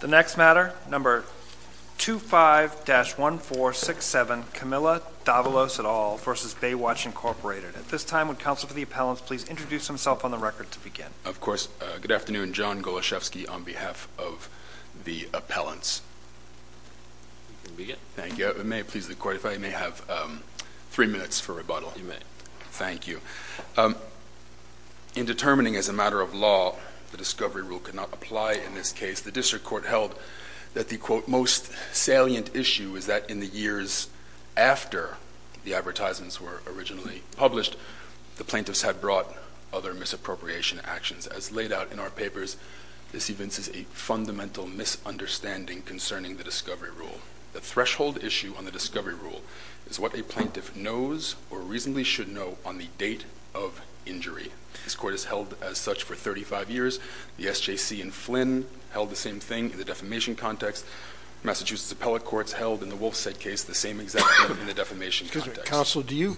The next matter, number 25-1467, Camilla Davalos et al. v. Baywatch, Inc. At this time, would counsel for the appellants please introduce himself on the record to begin. Of course, good afternoon, John Goloshefsky on behalf of the appellants. You can begin. Thank you, may it please the court if I may have three minutes for rebuttal? You may. Thank you. In determining as a matter of law the discovery rule could not apply in this case, the district court held that the quote most salient issue is that in the years after the advertisements were originally published, the plaintiffs had brought other misappropriation actions. As laid out in our papers, this evinces a fundamental misunderstanding concerning the discovery rule. The threshold issue on the discovery rule is what a plaintiff knows or reasonably should know on the date of injury. This court has held as such for 35 years. The SJC and Flynn held the same thing in the defamation context. Massachusetts appellate courts held in the Wolfside case the same exact thing in the defamation context. Counsel, do you,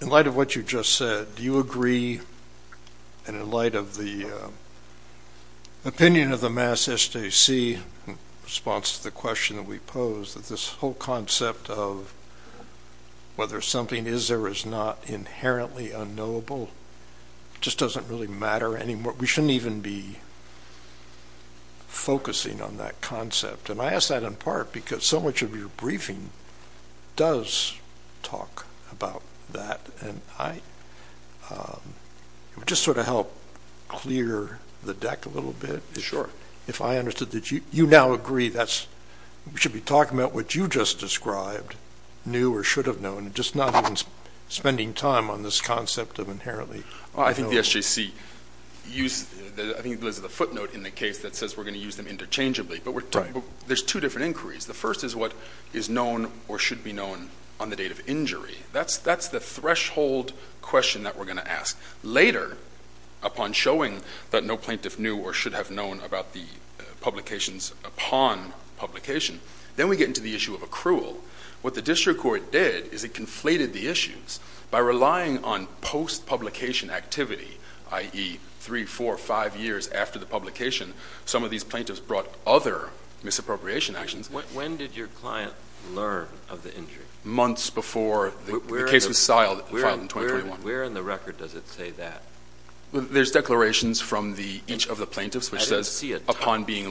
in light of what you just said, do you agree and in light of the opinion of the Massachusetts SJC in response to the question that we posed that this whole concept of whether something is or is not inherently unknowable just doesn't really matter anymore. We shouldn't even be focusing on that concept. And I ask that in part because so much of your briefing does talk about that. And I would just sort of help clear the deck a little bit if I understood that you now agree that we should be talking about what you just described, new or should have known, just not even spending time on this concept of inherently unknowable. I think the SJC used, I think it was the footnote in the case that says we're going to use them interchangeably, but there's two different inquiries. The first is what is known or should be known on the date of injury. That's the threshold question that we're going to ask. Later, upon showing that no plaintiff knew or should have known about the publications upon publication, then we get into the issue of accrual. What the district court did is it conflated the issues by relying on post-publication activity, i.e. three, four, five years after the publication, some of these plaintiffs brought other misappropriation actions. When did your client learn of the injury? Months before the case was filed in 2021. Where in the record does it say that? There's declarations from each of the plaintiffs which says upon being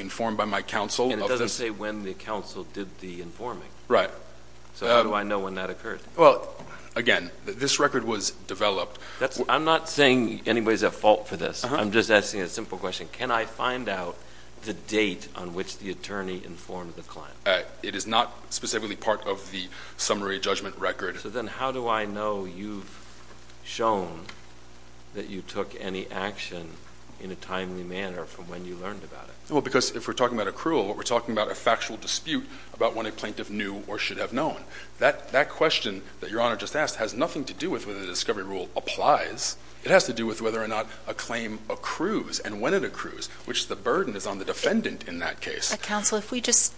informed by my counsel. And it doesn't say when the counsel did the informing. Right. So how do I know when that occurred? Well, again, this record was developed. I'm not saying anybody's at fault for this. I'm just asking a simple question. Can I find out the date on which the attorney informed the client? It is not specifically part of the summary judgment record. So then how do I know you've shown that you took any action in a timely manner from when you learned about it? Well, because if we're talking about accrual, we're talking about a factual dispute about when a plaintiff knew or should have known. That question that Your Honor just asked has nothing to do with whether the discovery rule applies. It has to do with whether or not a claim accrues and when it accrues, which the burden is on the defendant in that case. Counsel, if we just,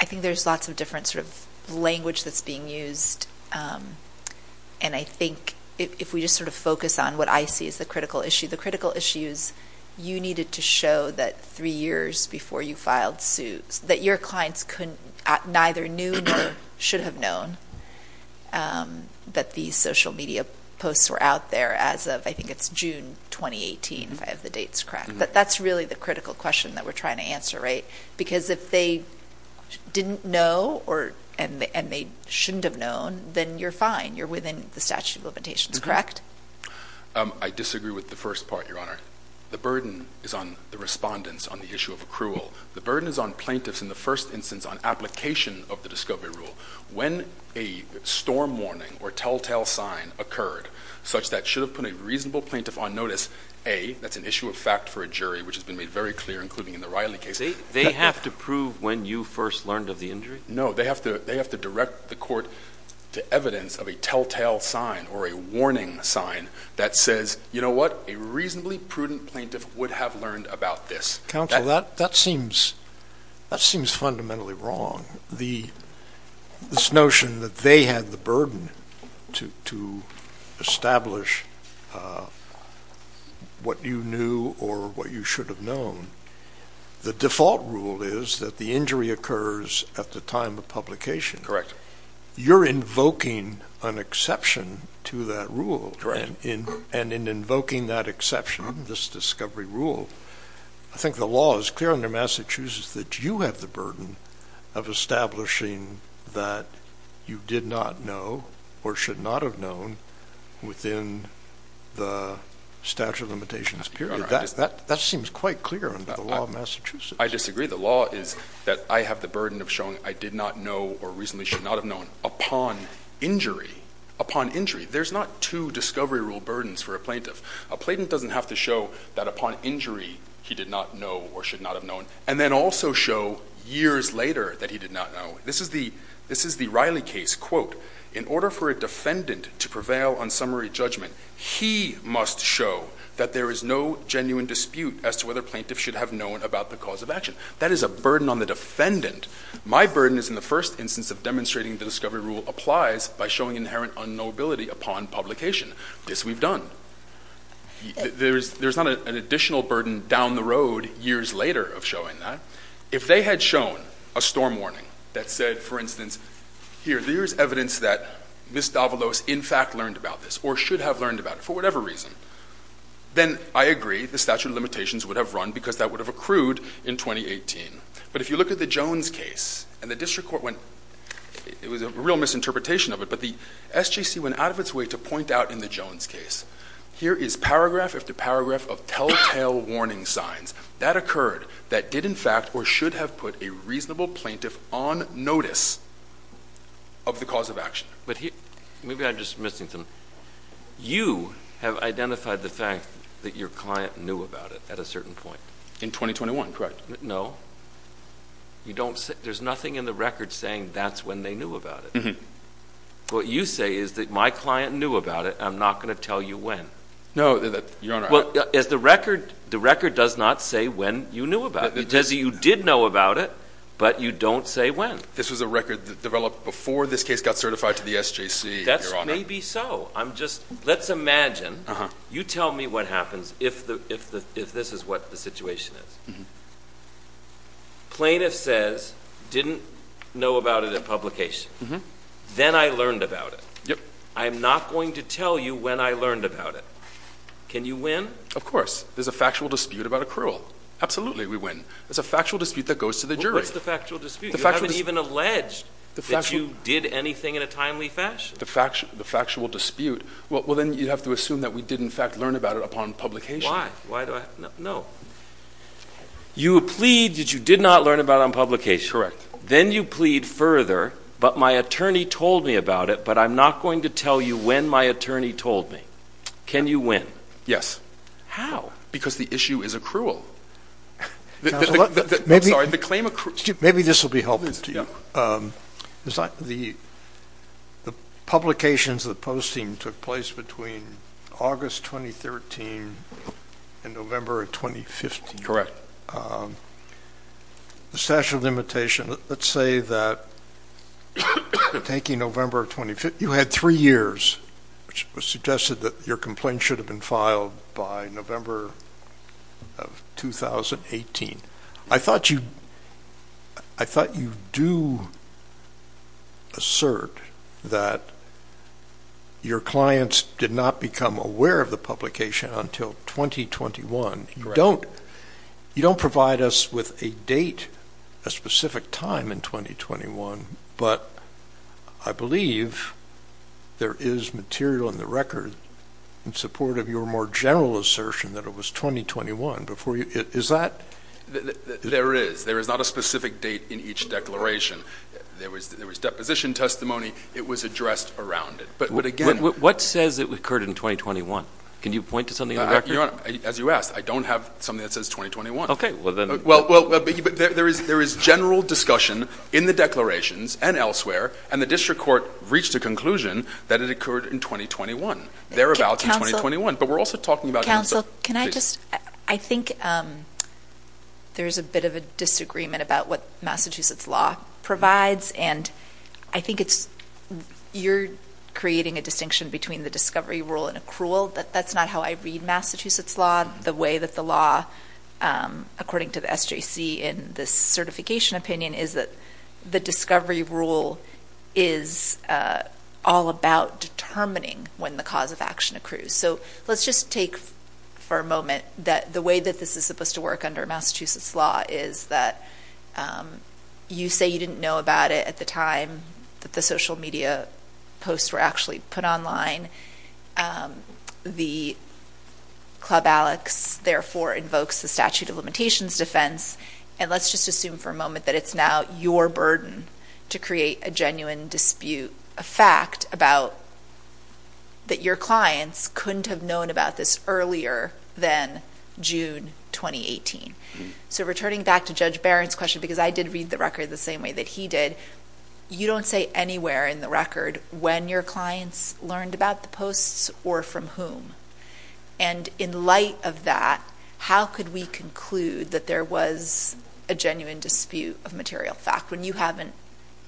I think there's lots of different sort of language that's being used. And I think if we just sort of focus on what I see as the critical issue, the critical issues you needed to show that three years before you filed suits, that your clients neither knew nor should have known that these social media posts were out there as of, I think it's June 2018, if I have the dates correct. But that's really the critical question that we're trying to answer, right? Because if they didn't know and they shouldn't have known, then you're fine. You're within the statute of limitations, correct? I disagree with the first part, Your Honor. The burden is on the respondents on the issue of accrual. The burden is on plaintiffs in the first instance on application of the discovery rule. When a storm warning or telltale sign occurred such that should have put a reasonable plaintiff on notice, A, that's an issue of fact for a jury, which has been made very clear, including in the Riley case. They have to prove when you first learned of the injury? No, they have to direct the court to evidence of a telltale sign or a warning sign that says, you know what, a reasonably prudent plaintiff would have learned about this. Counsel, that seems fundamentally wrong. This notion that they had the burden to establish what you knew or what you should have known. The default rule is that the injury occurs at the time of publication. You're invoking an exception to that rule. And in invoking that exception, this discovery rule, I think the law is clear under Massachusetts that you have the burden of establishing that you did not know or should not have known within the statute of limitations period. That seems quite clear under the law of Massachusetts. I disagree. The law is that I have the burden of showing I did not know or reasonably should not have known upon injury. Upon injury, there's not two discovery rule burdens for a plaintiff. A plaintiff doesn't have to show that upon injury he did not know or should not have known. And then also show years later that he did not know. This is the Riley case, quote, in order for a defendant to prevail on summary judgment, he must show that there is no genuine dispute as to whether plaintiffs should have known about the cause of action. That is a burden on the defendant. My burden is in the first instance of demonstrating the discovery rule applies by showing inherent unknowability upon publication. This we've done. There's not an additional burden down the road years later of showing that. If they had shown a storm warning that said, for instance, here, there's evidence that Ms. Davalos in fact learned about this or should have learned about it for whatever reason. Then I agree the statute of limitations would have run because that would have accrued in 2018. But if you look at the Jones case, and the district court went, it was a real misinterpretation of it, but the SJC went out of its way to point out in the Jones case, here is paragraph after paragraph of telltale warning signs. That occurred, that did in fact, or should have put a reasonable plaintiff on notice of the cause of action. But here, maybe I'm just missing something. You have identified the fact that your client knew about it at a certain point. In 2021, correct. No. You don't say, there's nothing in the record saying that's when they knew about it. What you say is that my client knew about it, and I'm not going to tell you when. No, Your Honor. Well, the record does not say when you knew about it. It says that you did know about it, but you don't say when. This was a record that developed before this case got certified to the SJC, Your Honor. That's maybe so. I'm just, let's imagine, you tell me what happens if this is what the situation is. Plaintiff says, didn't know about it at publication. Then I learned about it. I'm not going to tell you when I learned about it. Can you win? Of course. There's a factual dispute about accrual. Absolutely, we win. It's a factual dispute that goes to the jury. What's the factual dispute? You haven't even alleged that you did anything in a timely fashion. The factual dispute, well then you have to assume that we did in fact learn about it upon publication. Why? Why do I? No. You plead that you did not learn about it on publication. Then you plead further, but my attorney told me about it, but I'm not going to tell you when my attorney told me. Can you win? Yes. How? Because the issue is accrual. I'm sorry, the claim accrual. Maybe this will be helpful to you. The publications, the posting took place between August 2013 and November of 2015. Correct. But the statute of limitation, let's say that taking November of 2015, you had three years, which was suggested that your complaint should have been filed by November of 2018. I thought you do assert that your clients did not become aware of the publication until 2021. Correct. You don't provide us with a date, a specific time in 2021, but I believe there is material in the record in support of your more general assertion that it was 2021 before you, is that? There is. There is not a specific date in each declaration. There was deposition testimony. It was addressed around it, but again- What says it occurred in 2021? Can you point to something in the record? As you asked, I don't have something that says 2021. Okay, well then- Well, there is general discussion in the declarations and elsewhere, and the district court reached a conclusion that it occurred in 2021, thereabouts in 2021. But we're also talking about- Counsel, can I just, I think there's a bit of a disagreement about what Massachusetts law provides, and I think you're creating a distinction between the discovery rule and accrual. That's not how I read Massachusetts law, the way that the law, according to the SJC in this certification opinion, is that the discovery rule is all about determining when the cause of action accrues. So, let's just take for a moment that the way that this is supposed to work under Massachusetts law is that you say you didn't know about it at the time that the social media posts were actually put online. The Club Alex, therefore, invokes the statute of limitations defense. And let's just assume for a moment that it's now your burden to create a genuine dispute, a fact about that your clients couldn't have known about this earlier than June 2018. So, returning back to Judge Barron's question, because I did read the record the same way that he did, you don't say anywhere in the record when your clients learned about the posts or from whom. And in light of that, how could we conclude that there was a genuine dispute of material fact when you haven't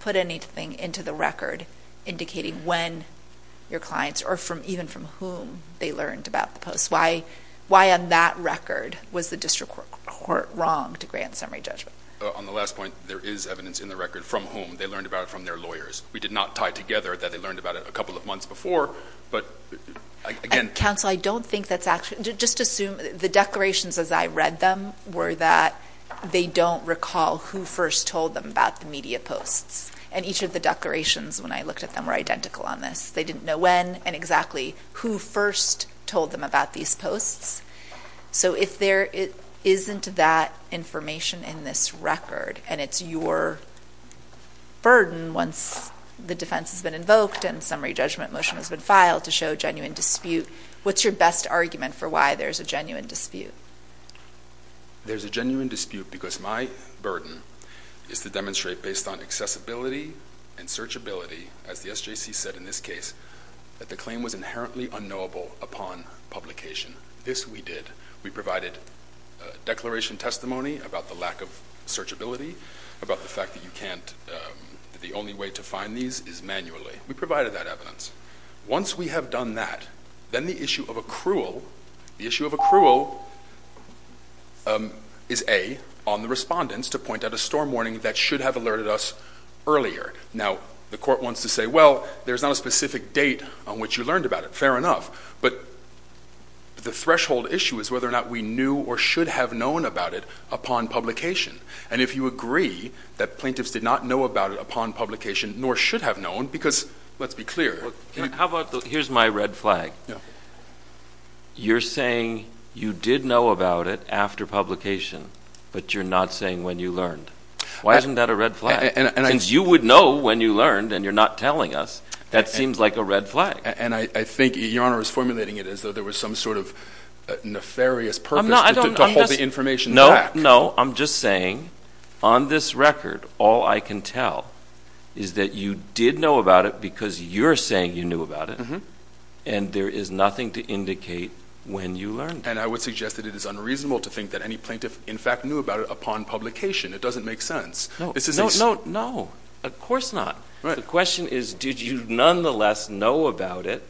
put anything into the record indicating when your clients, or even from whom, they learned about the posts? Why on that record was the district court wrong to grant summary judgment? On the last point, there is evidence in the record from whom they learned about it from their lawyers. We did not tie together that they learned about it a couple of months before, but again- Counsel, I don't think that's actually, just assume the declarations as I read them were that they don't recall who first told them about the media posts. And each of the declarations, when I looked at them, were identical on this. They didn't know when and exactly who first told them about these posts. So if there isn't that information in this record, and it's your burden once the defense has been invoked, and summary judgment motion has been filed to show genuine dispute, what's your best argument for why there's a genuine dispute? There's a genuine dispute because my burden is to demonstrate based on accessibility and searchability, as the SJC said in this case, that the claim was inherently unknowable upon publication. This we did. We provided declaration testimony about the lack of searchability, about the fact that you can't, that the only way to find these is manually. We provided that evidence. Once we have done that, then the issue of accrual, the issue of accrual is A, on the respondents to point out a storm warning that should have alerted us earlier. Now, the court wants to say, well, there's not a specific date on which you learned about it, fair enough. But the threshold issue is whether or not we knew or should have known about it upon publication. And if you agree that plaintiffs did not know about it upon publication, nor should have known, because let's be clear. Well, how about, here's my red flag. You're saying you did know about it after publication, but you're not saying when you learned. Why isn't that a red flag? Since you would know when you learned, and you're not telling us, that seems like a red flag. And I think your honor is formulating it as though there was some sort of nefarious purpose to hold the information back. No, no, I'm just saying, on this record, all I can tell is that you did know about it because you're saying you knew about it, and there is nothing to indicate when you learned. And I would suggest that it is unreasonable to think that any plaintiff, in fact, knew about it upon publication. It doesn't make sense. No, no, no, no. Of course not. The question is, did you nonetheless know about it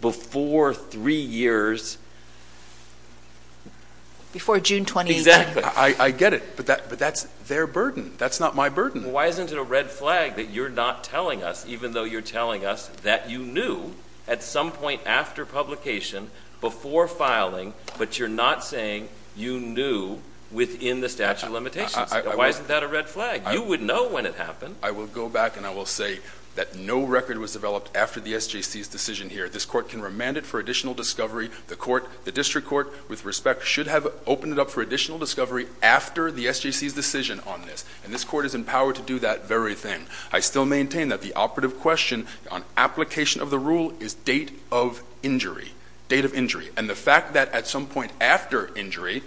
before three years? Before June 28th. Exactly. I get it, but that's their burden. That's not my burden. Why isn't it a red flag that you're not telling us, even though you're telling us that you knew at some point after publication, before filing, but you're not saying you knew within the statute of limitations. Why isn't that a red flag? You would know when it happened. I will go back and I will say that no record was developed after the SJC's decision here. This court can remand it for additional discovery. The court, the district court, with respect, should have opened it up for additional discovery after the SJC's decision on this. And this court is empowered to do that very thing. I still maintain that the operative question on application of the rule is date of injury. Date of injury. And the fact that at some point after injury,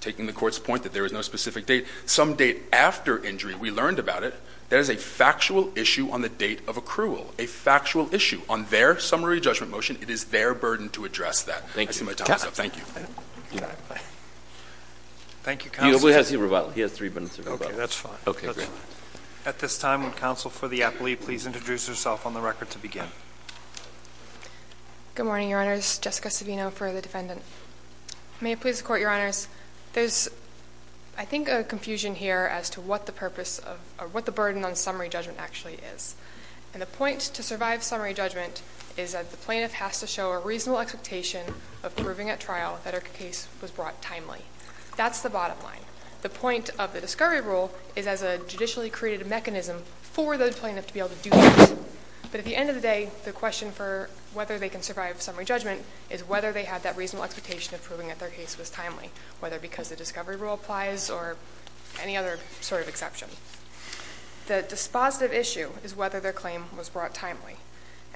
taking the court's point that there is no specific date, some date after injury, we learned about it, there's a factual issue on the date of accrual. A factual issue on their summary judgment motion. It is their burden to address that. I see my time is up. Thank you. Thank you, counsel. He has three minutes to rebut. Okay, that's fine. Okay, great. At this time, would counsel for the appellee please introduce herself on the record to begin? Good morning, your honors. Jessica Savino for the defendant. May it please the court, your honors. There's, I think, a confusion here as to what the purpose of, or what the burden on summary judgment actually is. And the point to survive summary judgment is that the plaintiff has to show a reasonable expectation of proving at trial that her case was brought timely. That's the bottom line. The point of the discovery rule is as a judicially created mechanism for the plaintiff to be able to do that. But at the end of the day, the question for whether they can survive summary judgment is whether they had that reasonable expectation of proving that their case was timely. Whether because the discovery rule applies or any other sort of exception. The dispositive issue is whether their claim was brought timely.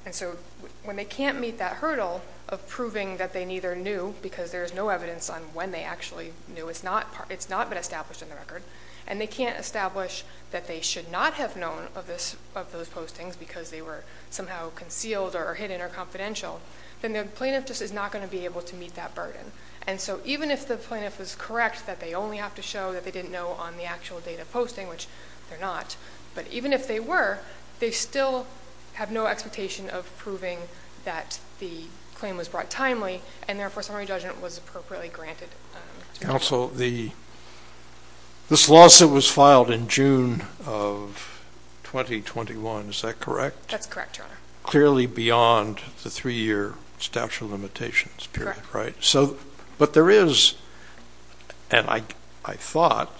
And so when they can't meet that hurdle of proving that they neither knew, because there's no evidence on when they actually knew, it's not been established in the record. And they can't establish that they should not have known of those postings because they were somehow concealed or hidden or confidential. Then the plaintiff just is not going to be able to meet that burden. And so even if the plaintiff is correct that they only have to show that they didn't know on the actual date of posting, which they're not. But even if they were, they still have no expectation of proving that the claim was brought timely and therefore summary judgment was appropriately granted. Counsel, this lawsuit was filed in June of 2021, is that correct? That's correct, Your Honor. Clearly beyond the three year statute of limitations period, right? But there is, and I thought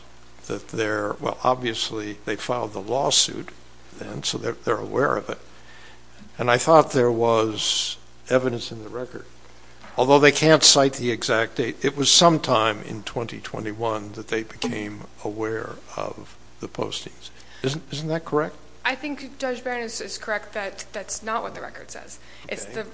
that there, well, obviously they filed the lawsuit then, so they're aware of it. And I thought there was evidence in the record. Although they can't cite the exact date, it was sometime in 2021 that they became aware of the postings. Isn't that correct? I think Judge Barron is correct that that's not what the record says. It's the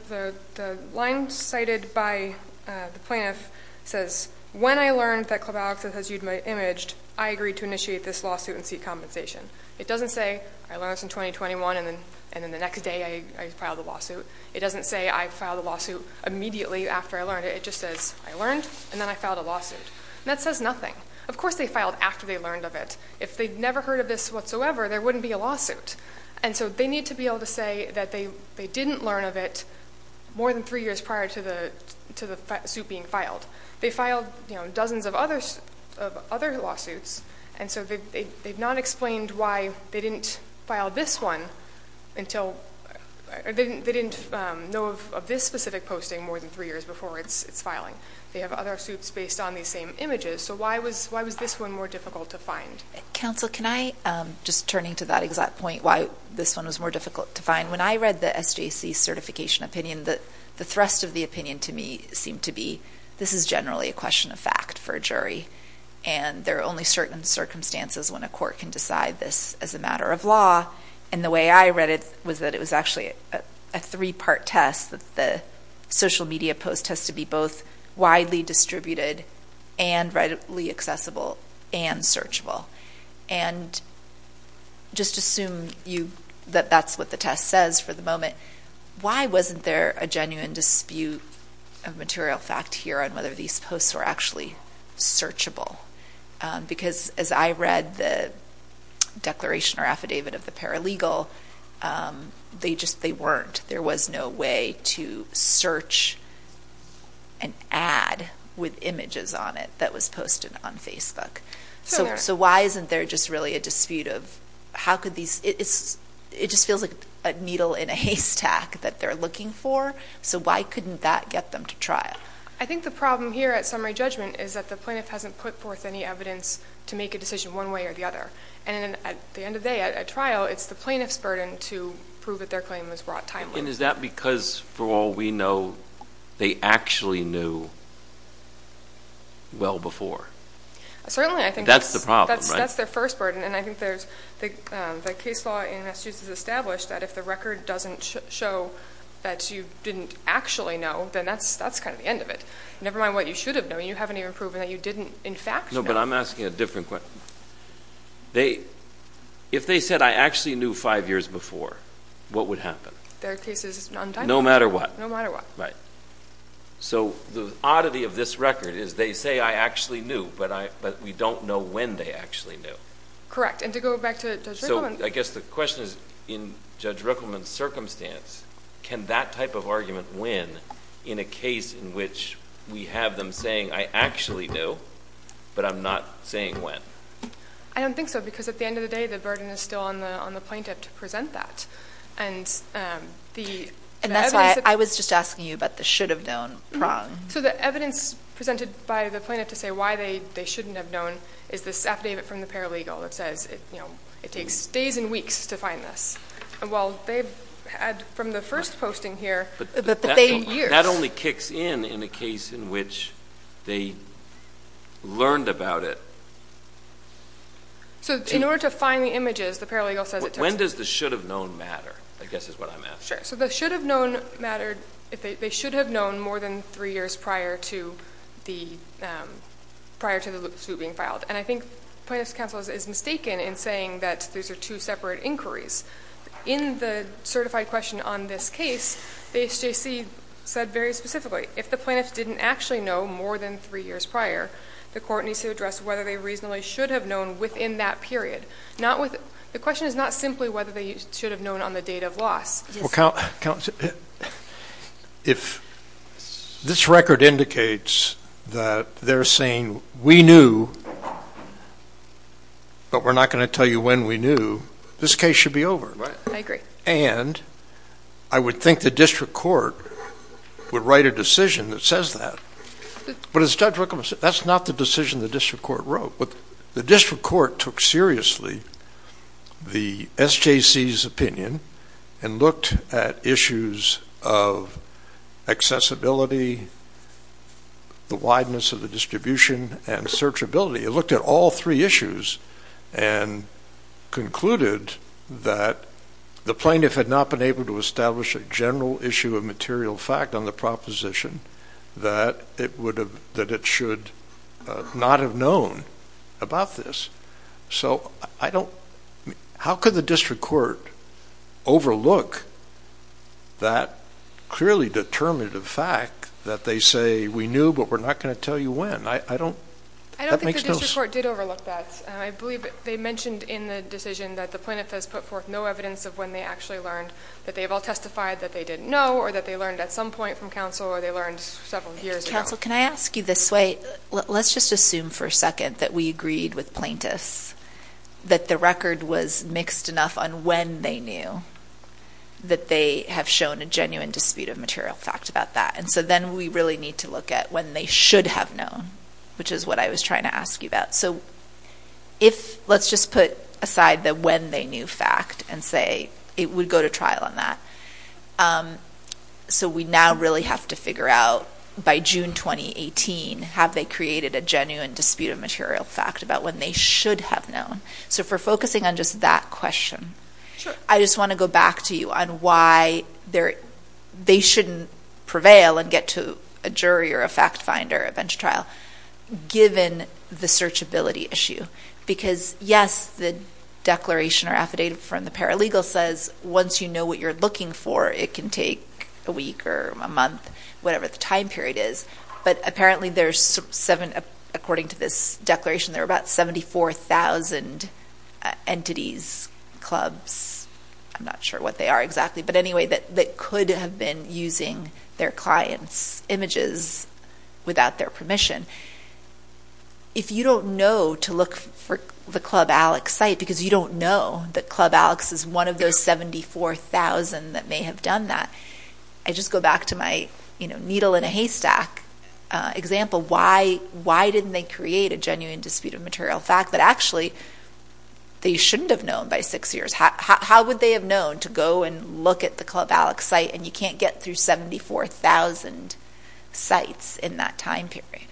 line cited by the plaintiff says, when I learned that Clavallox has used my image, I agreed to initiate this lawsuit and seek compensation. It doesn't say, I learned this in 2021 and then the next day I filed a lawsuit. It doesn't say I filed a lawsuit immediately after I learned it, it just says I learned and then I filed a lawsuit. And that says nothing. Of course they filed after they learned of it. If they'd never heard of this whatsoever, there wouldn't be a lawsuit. And so they need to be able to say that they didn't learn of it more than three years prior to the suit being filed. They filed dozens of other lawsuits. And so they've not explained why they didn't file this one until, they didn't know of this specific posting more than three years before it's filing. They have other suits based on these same images, so why was this one more difficult to find? Counsel, can I just turning to that exact point why this one was more difficult to find. When I read the SJC certification opinion, the thrust of the opinion to me seemed to be, this is generally a question of fact for a jury. And there are only certain circumstances when a court can decide this as a matter of law. And the way I read it was that it was actually a three part test that the social media post has to be both widely distributed and readily accessible and searchable. And just assume that that's what the test says for the moment. Why wasn't there a genuine dispute of material fact here on whether these posts were actually searchable? Because as I read the declaration or affidavit of the paralegal, they weren't. There was no way to search an ad with images on it that was posted on Facebook. So why isn't there just really a dispute of how could these, it just feels like a needle in a haystack that they're looking for. So why couldn't that get them to trial? I think the problem here at summary judgment is that the plaintiff hasn't put forth any evidence to make a decision one way or the other. And at the end of the day, at trial, it's the plaintiff's burden to prove that their claim was brought timely. And is that because for all we know, they actually knew well before? Certainly, I think- That's the problem, right? That's their first burden. And I think the case law in Massachusetts established that if the record doesn't show that you didn't actually know, then that's kind of the end of it. Never mind what you should have known, you haven't even proven that you didn't in fact know. No, but I'm asking a different question. If they said I actually knew five years before, what would happen? Their case is untimely. No matter what. No matter what. Right. So the oddity of this record is they say I actually knew, but we don't know when they actually knew. Correct, and to go back to Judge Rickleman. So I guess the question is, in Judge Rickleman's circumstance, can that type of argument win in a case in which we have them saying I actually do, but I'm not saying when? I don't think so, because at the end of the day, the burden is still on the plaintiff to present that. And the evidence- And that's why I was just asking you about the should have known prong. So the evidence presented by the plaintiff to say why they shouldn't have known is this affidavit from the paralegal that says it takes days and weeks to find this. Well, they've had, from the first posting here, the same years. That only kicks in in a case in which they learned about it. So in order to find the images, the paralegal says it takes- When does the should have known matter, I guess is what I'm asking. Sure, so the should have known mattered if they should have known more than three years prior to the, prior to the suit being filed. And I think plaintiff's counsel is mistaken in saying that these are two separate inquiries. In the certified question on this case, the SJC said very specifically, if the plaintiff didn't actually know more than three years prior, the court needs to address whether they reasonably should have known within that period. Not with, the question is not simply whether they should have known on the date of loss. Well, counsel, if this record indicates that they're saying we knew, but we're not going to tell you when we knew, this case should be over, right? I agree. And I would think the district court would write a decision that says that. But as Judge Wickham said, that's not the decision the district court wrote. The district court took seriously the SJC's opinion and looked at issues of accessibility, the wideness of the distribution, and searchability. It looked at all three issues and concluded that the plaintiff had not been able to establish a general issue of material fact on the proposition that it should not have known about this. So I don't, how could the district court overlook that clearly determinative fact that they say we knew, but we're not going to tell you when? I don't, that makes no sense. I don't think the district court did overlook that. I believe they mentioned in the decision that the plaintiff has put forth no evidence of when they actually learned. That they've all testified that they didn't know, or that they learned at some point from counsel, or they learned several years ago. Counsel, can I ask you this way? Let's just assume for a second that we agreed with plaintiffs that the record was mixed enough on when they knew that they have shown a genuine dispute of material fact about that. And so then we really need to look at when they should have known, which is what I was trying to ask you about. So if, let's just put aside the when they knew fact and say it would go to trial on that. So we now really have to figure out by June 2018, have they created a genuine dispute of material fact about when they should have known? So if we're focusing on just that question, I just want to go back to you on why they shouldn't prevail and get to a jury or a fact finder, a bench trial, given the searchability issue. Because yes, the declaration or affidavit from the paralegal says once you know what you're looking for, it can take a week or a month, whatever the time period is. But apparently there's seven, according to this declaration, there are about 74,000 entities, clubs, I'm not sure what they are exactly. But anyway, that could have been using their clients' images without their permission. If you don't know to look for the Club Alex site, because you don't know that Club Alex is one of those 74,000 that may have done that. I just go back to my needle in a haystack example. Why didn't they create a genuine dispute of material fact that actually they shouldn't have known by six years? How would they have known to go and look at the Club Alex site and you can't get through 74,000 sites in that time period?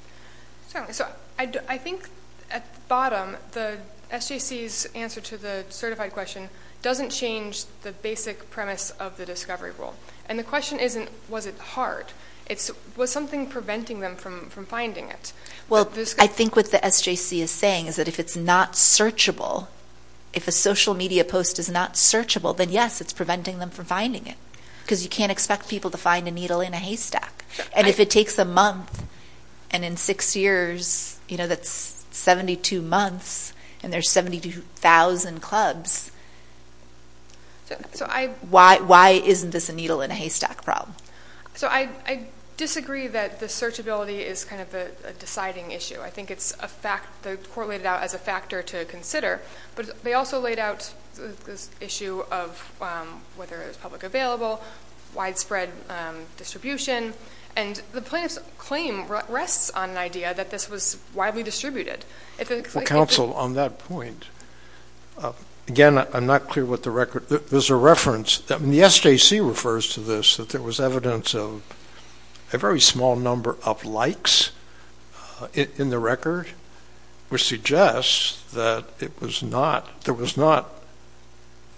So I think at the bottom, the SJC's answer to the certified question doesn't change the basic premise of the discovery rule. And the question isn't, was it hard? It's, was something preventing them from finding it? Well, I think what the SJC is saying is that if it's not searchable, if a social media post is not searchable, then yes, it's preventing them from finding it. Because you can't expect people to find a needle in a haystack. And if it takes a month, and in six years, that's 72 months, and there's 72,000 clubs. Why isn't this a needle in a haystack problem? So I disagree that the searchability is kind of a deciding issue. I think it's a fact, the court laid it out as a factor to consider. But they also laid out this issue of whether it was public available, widespread distribution, and the plaintiff's claim rests on an idea that this was widely distributed. If it's like- Well, counsel, on that point, again, I'm not clear what the record, there's a reference, the SJC refers to this, that there was evidence of a very small number of likes in the record, which suggests that there was not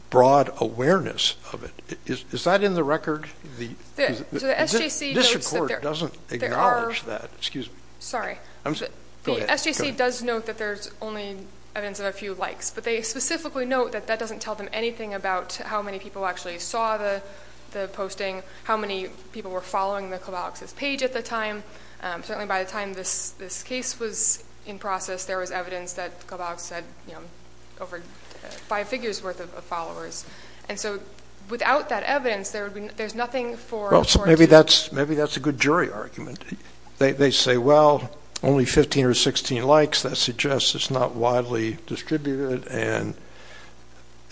broad awareness of it. Is that in the record? The SJC notes that there- This report doesn't acknowledge that, excuse me. Sorry. The SJC does note that there's only evidence of a few likes. But they specifically note that that doesn't tell them anything about how many people actually saw the posting, how many people were following the Klobalko's page at the time. Certainly by the time this case was in process, there was evidence that Klobalko's had over five figures worth of followers. And so without that evidence, there's nothing for- Well, so maybe that's a good jury argument. They say, well, only 15 or 16 likes, that suggests it's not widely distributed. And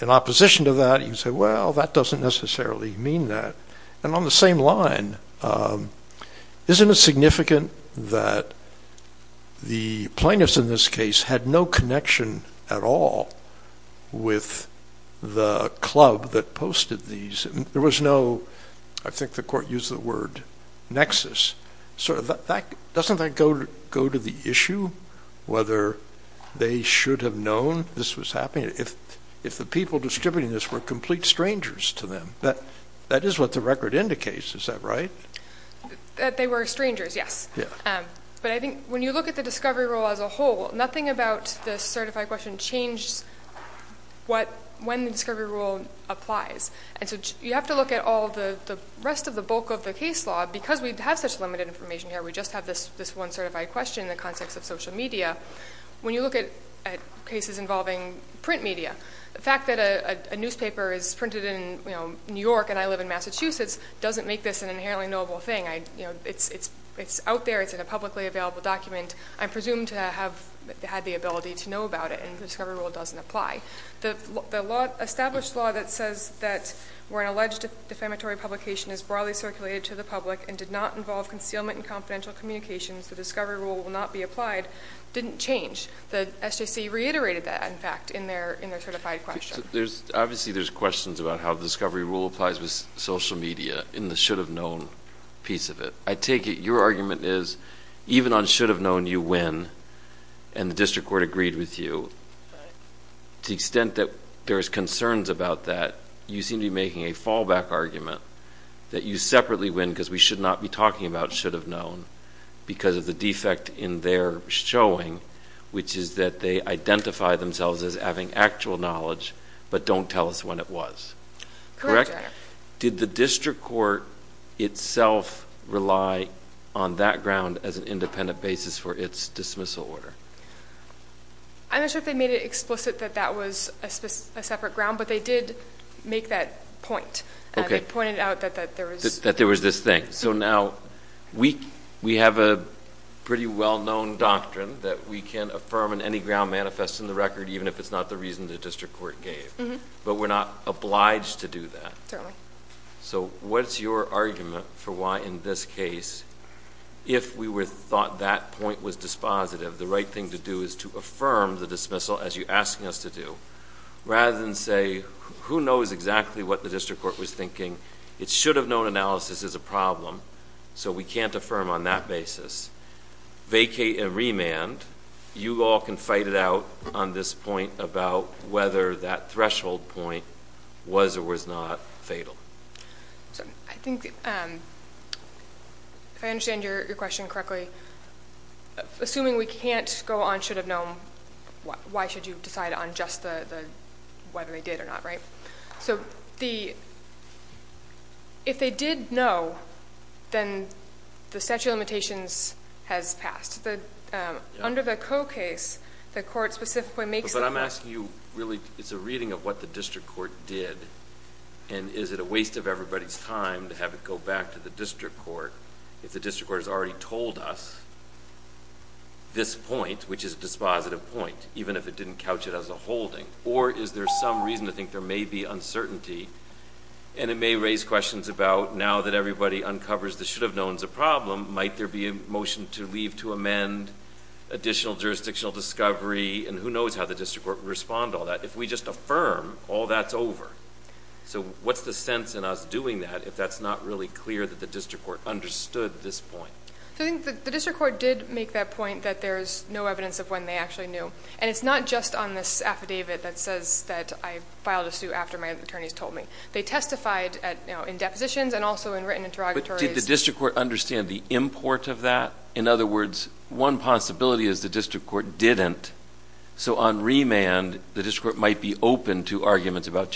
in opposition to that, you say, well, that doesn't necessarily mean that. And on the same line, isn't it significant that the plaintiffs in this case had no connection at all with the club that posted these? There was no, I think the court used the word, nexus. So doesn't that go to the issue whether they should have known? If the people distributing this were complete strangers to them, that is what the record indicates, is that right? That they were strangers, yes. But I think when you look at the discovery rule as a whole, nothing about the certified question changed when the discovery rule applies. And so you have to look at all the rest of the bulk of the case law. Because we have such limited information here, we just have this one certified question in the context of social media. When you look at cases involving print media, the fact that a newspaper is printed in New York, and I live in Massachusetts, doesn't make this an inherently knowable thing. It's out there, it's in a publicly available document. I presume to have had the ability to know about it, and the discovery rule doesn't apply. The established law that says that where an alleged defamatory publication is broadly circulated to the public and did not involve concealment and confidential communications, the discovery rule will not be applied, didn't change. The SJC reiterated that, in fact, in their certified question. Obviously there's questions about how the discovery rule applies with social media in the should have known piece of it. I take it your argument is, even on should have known you win, and the district court agreed with you, to the extent that there's concerns about that, you seem to be making a fallback argument that you separately win because we should not be talking about should have known because of the defect in their showing, which is that they identify themselves as having actual knowledge, but don't tell us when it was. Correct? Did the district court itself rely on that ground as an independent basis for its dismissal order? I'm not sure if they made it explicit that that was a separate ground, but they did make that point. They pointed out that there was this thing. Now, we have a pretty well-known doctrine that we can affirm in any ground manifest in the record, even if it's not the reason the district court gave, but we're not obliged to do that. Certainly. What's your argument for why, in this case, if we thought that point was dispositive, the right thing to do is to affirm the dismissal as you're asking us to do, rather than say, who knows exactly what the district court was thinking? It should have known analysis is a problem, so we can't affirm on that basis. Vacate and remand, you all can fight it out on this point about whether that threshold point was or was not fatal. So, I think, if I understand your question correctly, assuming we can't go on should have known, why should you decide on just whether they did or not, right? So, if they did know, then the statute of limitations has passed. Under the Coe case, the court specifically makes- But I'm asking you, really, it's a reading of what the district court did, and is it a waste of everybody's time to have it go back to the district court, if the district court has already told us this point, which is a dispositive point, even if it didn't couch it as a holding, or is there some reason to think there may be uncertainty, and it may raise questions about, now that everybody uncovers the should have knowns a problem, might there be a motion to leave to amend additional jurisdictional discovery, and who knows how the district court would respond to all that, if we just affirm, all that's over. So, what's the sense in us doing that, if that's not really clear that the district court understood this point? So, I think the district court did make that point that there's no evidence of when they actually knew, and it's not just on this affidavit that says that I filed a suit after my attorneys told me. They testified in depositions and also in written interrogatories. But did the district court understand the import of that? In other words, one possibility is the district court didn't. So, on remand, the district court might be open to arguments about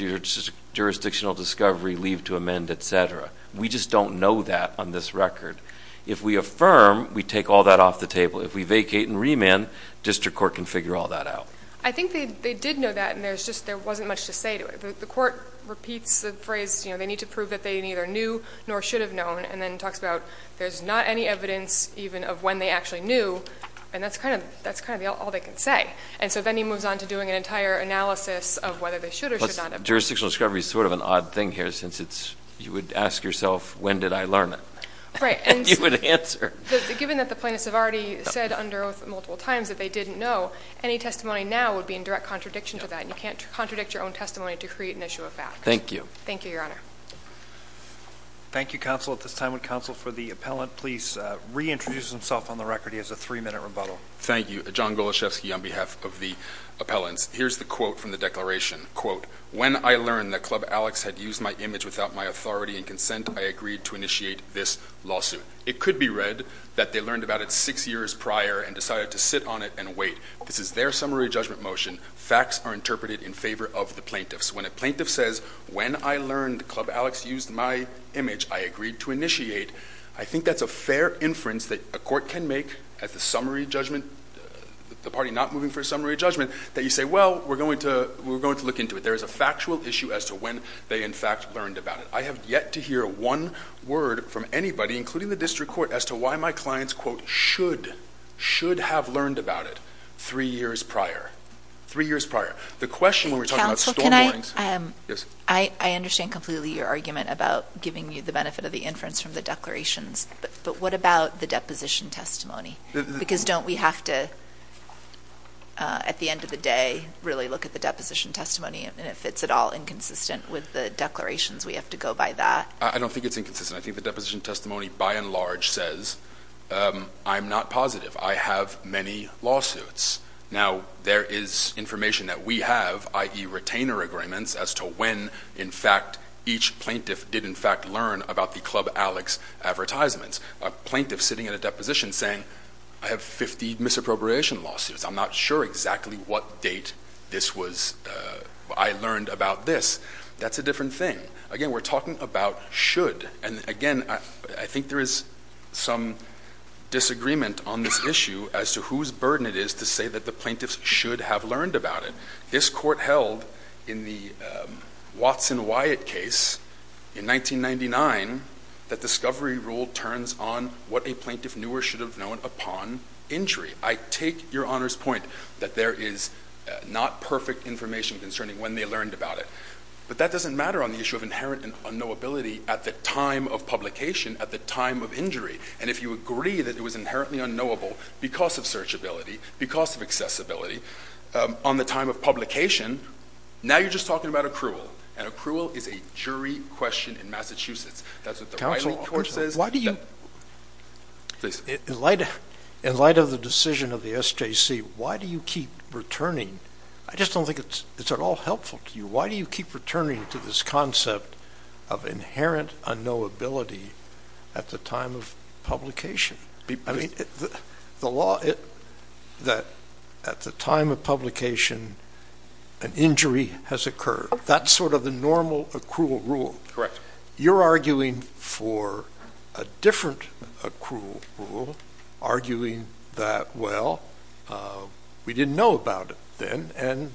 jurisdictional discovery, leave to amend, etc. We just don't know that on this record. If we affirm, we take all that off the table. If we vacate and remand, district court can figure all that out. I think they did know that, and there wasn't much to say to it. The court repeats the phrase, they need to prove that they neither knew nor should have known, and then talks about there's not any evidence even of when they actually knew, and that's kind of all they can say. And so then he moves on to doing an entire analysis of whether they should or should not have known. Jurisdictional discovery is sort of an odd thing here, since you would ask yourself, when did I learn it? And you would answer. Given that the plaintiffs have already said under oath multiple times that they didn't know, any testimony now would be in direct contradiction to that. And you can't contradict your own testimony to create an issue of fact. Thank you. Thank you, Your Honor. Thank you, counsel. At this time, would counsel for the appellant please reintroduce himself on the record? He has a three minute rebuttal. Thank you. John Goloshefsky on behalf of the appellants. Here's the quote from the declaration. When I learned that Club Alex had used my image without my authority and consent, I agreed to initiate this lawsuit. It could be read that they learned about it six years prior and decided to sit on it and wait. This is their summary judgment motion. Facts are interpreted in favor of the plaintiffs. When a plaintiff says, when I learned Club Alex used my image, I agreed to initiate. I think that's a fair inference that a court can make at the summary judgment, the party not moving for a summary judgment, that you say, well, we're going to look into it. There is a factual issue as to when they in fact learned about it. I have yet to hear one word from anybody, including the district court, as to why my clients quote should, should have learned about it three years prior, three years prior. The question when we're talking about storm warnings- Counsel, can I- Yes. I understand completely your argument about giving you the benefit of the inference from the declarations. But what about the deposition testimony? Because don't we have to, at the end of the day, really look at the deposition testimony? And if it's at all inconsistent with the declarations, we have to go by that? I don't think it's inconsistent. I think the deposition testimony, by and large, says, I'm not positive. I have many lawsuits. Now, there is information that we have, i.e. retainer agreements, as to when, in fact, each plaintiff did in fact learn about the Club Alex advertisements. A plaintiff sitting at a deposition saying, I have 50 misappropriation lawsuits. I'm not sure exactly what date this was, I learned about this. That's a different thing. Again, we're talking about should. And again, I think there is some disagreement on this issue as to whose burden it is to say that the plaintiffs should have learned about it. This court held, in the Watson-Wyatt case in 1999, that discovery rule turns on what a plaintiff knew or should have known upon injury. I take your Honor's point that there is not perfect information concerning when they learned about it. But that doesn't matter on the issue of inherent and unknowability at the time of publication, at the time of injury. And if you agree that it was inherently unknowable because of searchability, because of accessibility, on the time of publication, now you're just talking about accrual. And accrual is a jury question in Massachusetts. That's what the Riley Court says. Why do you, in light of the decision of the SJC, why do you keep returning? I just don't think it's at all helpful to you. Why do you keep returning to this concept of inherent unknowability at the time of publication? I mean, the law, that at the time of publication, an injury has occurred. That's sort of the normal accrual rule. Correct. You're arguing for a different accrual rule, arguing that, well, we didn't know about it then, and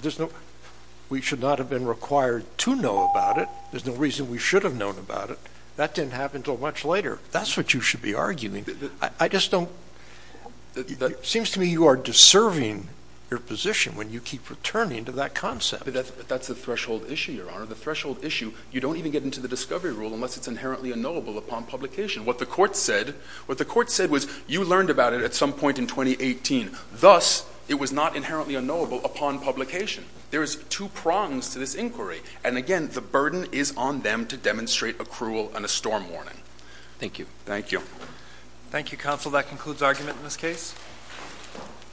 we should not have been required to know about it. There's no reason we should have known about it. That didn't happen until much later. That's what you should be arguing. I just don't, it seems to me you are deserving your position when you keep returning to that concept. That's the threshold issue, Your Honor. The threshold issue, you don't even get into the discovery rule unless it's inherently unknowable upon publication. What the court said, what the court said was, you learned about it at some point in 2018. Thus, it was not inherently unknowable upon publication. There's two prongs to this inquiry. And again, the burden is on them to demonstrate accrual and a storm warning. Thank you. Thank you. Thank you, Counsel. That concludes argument in this case.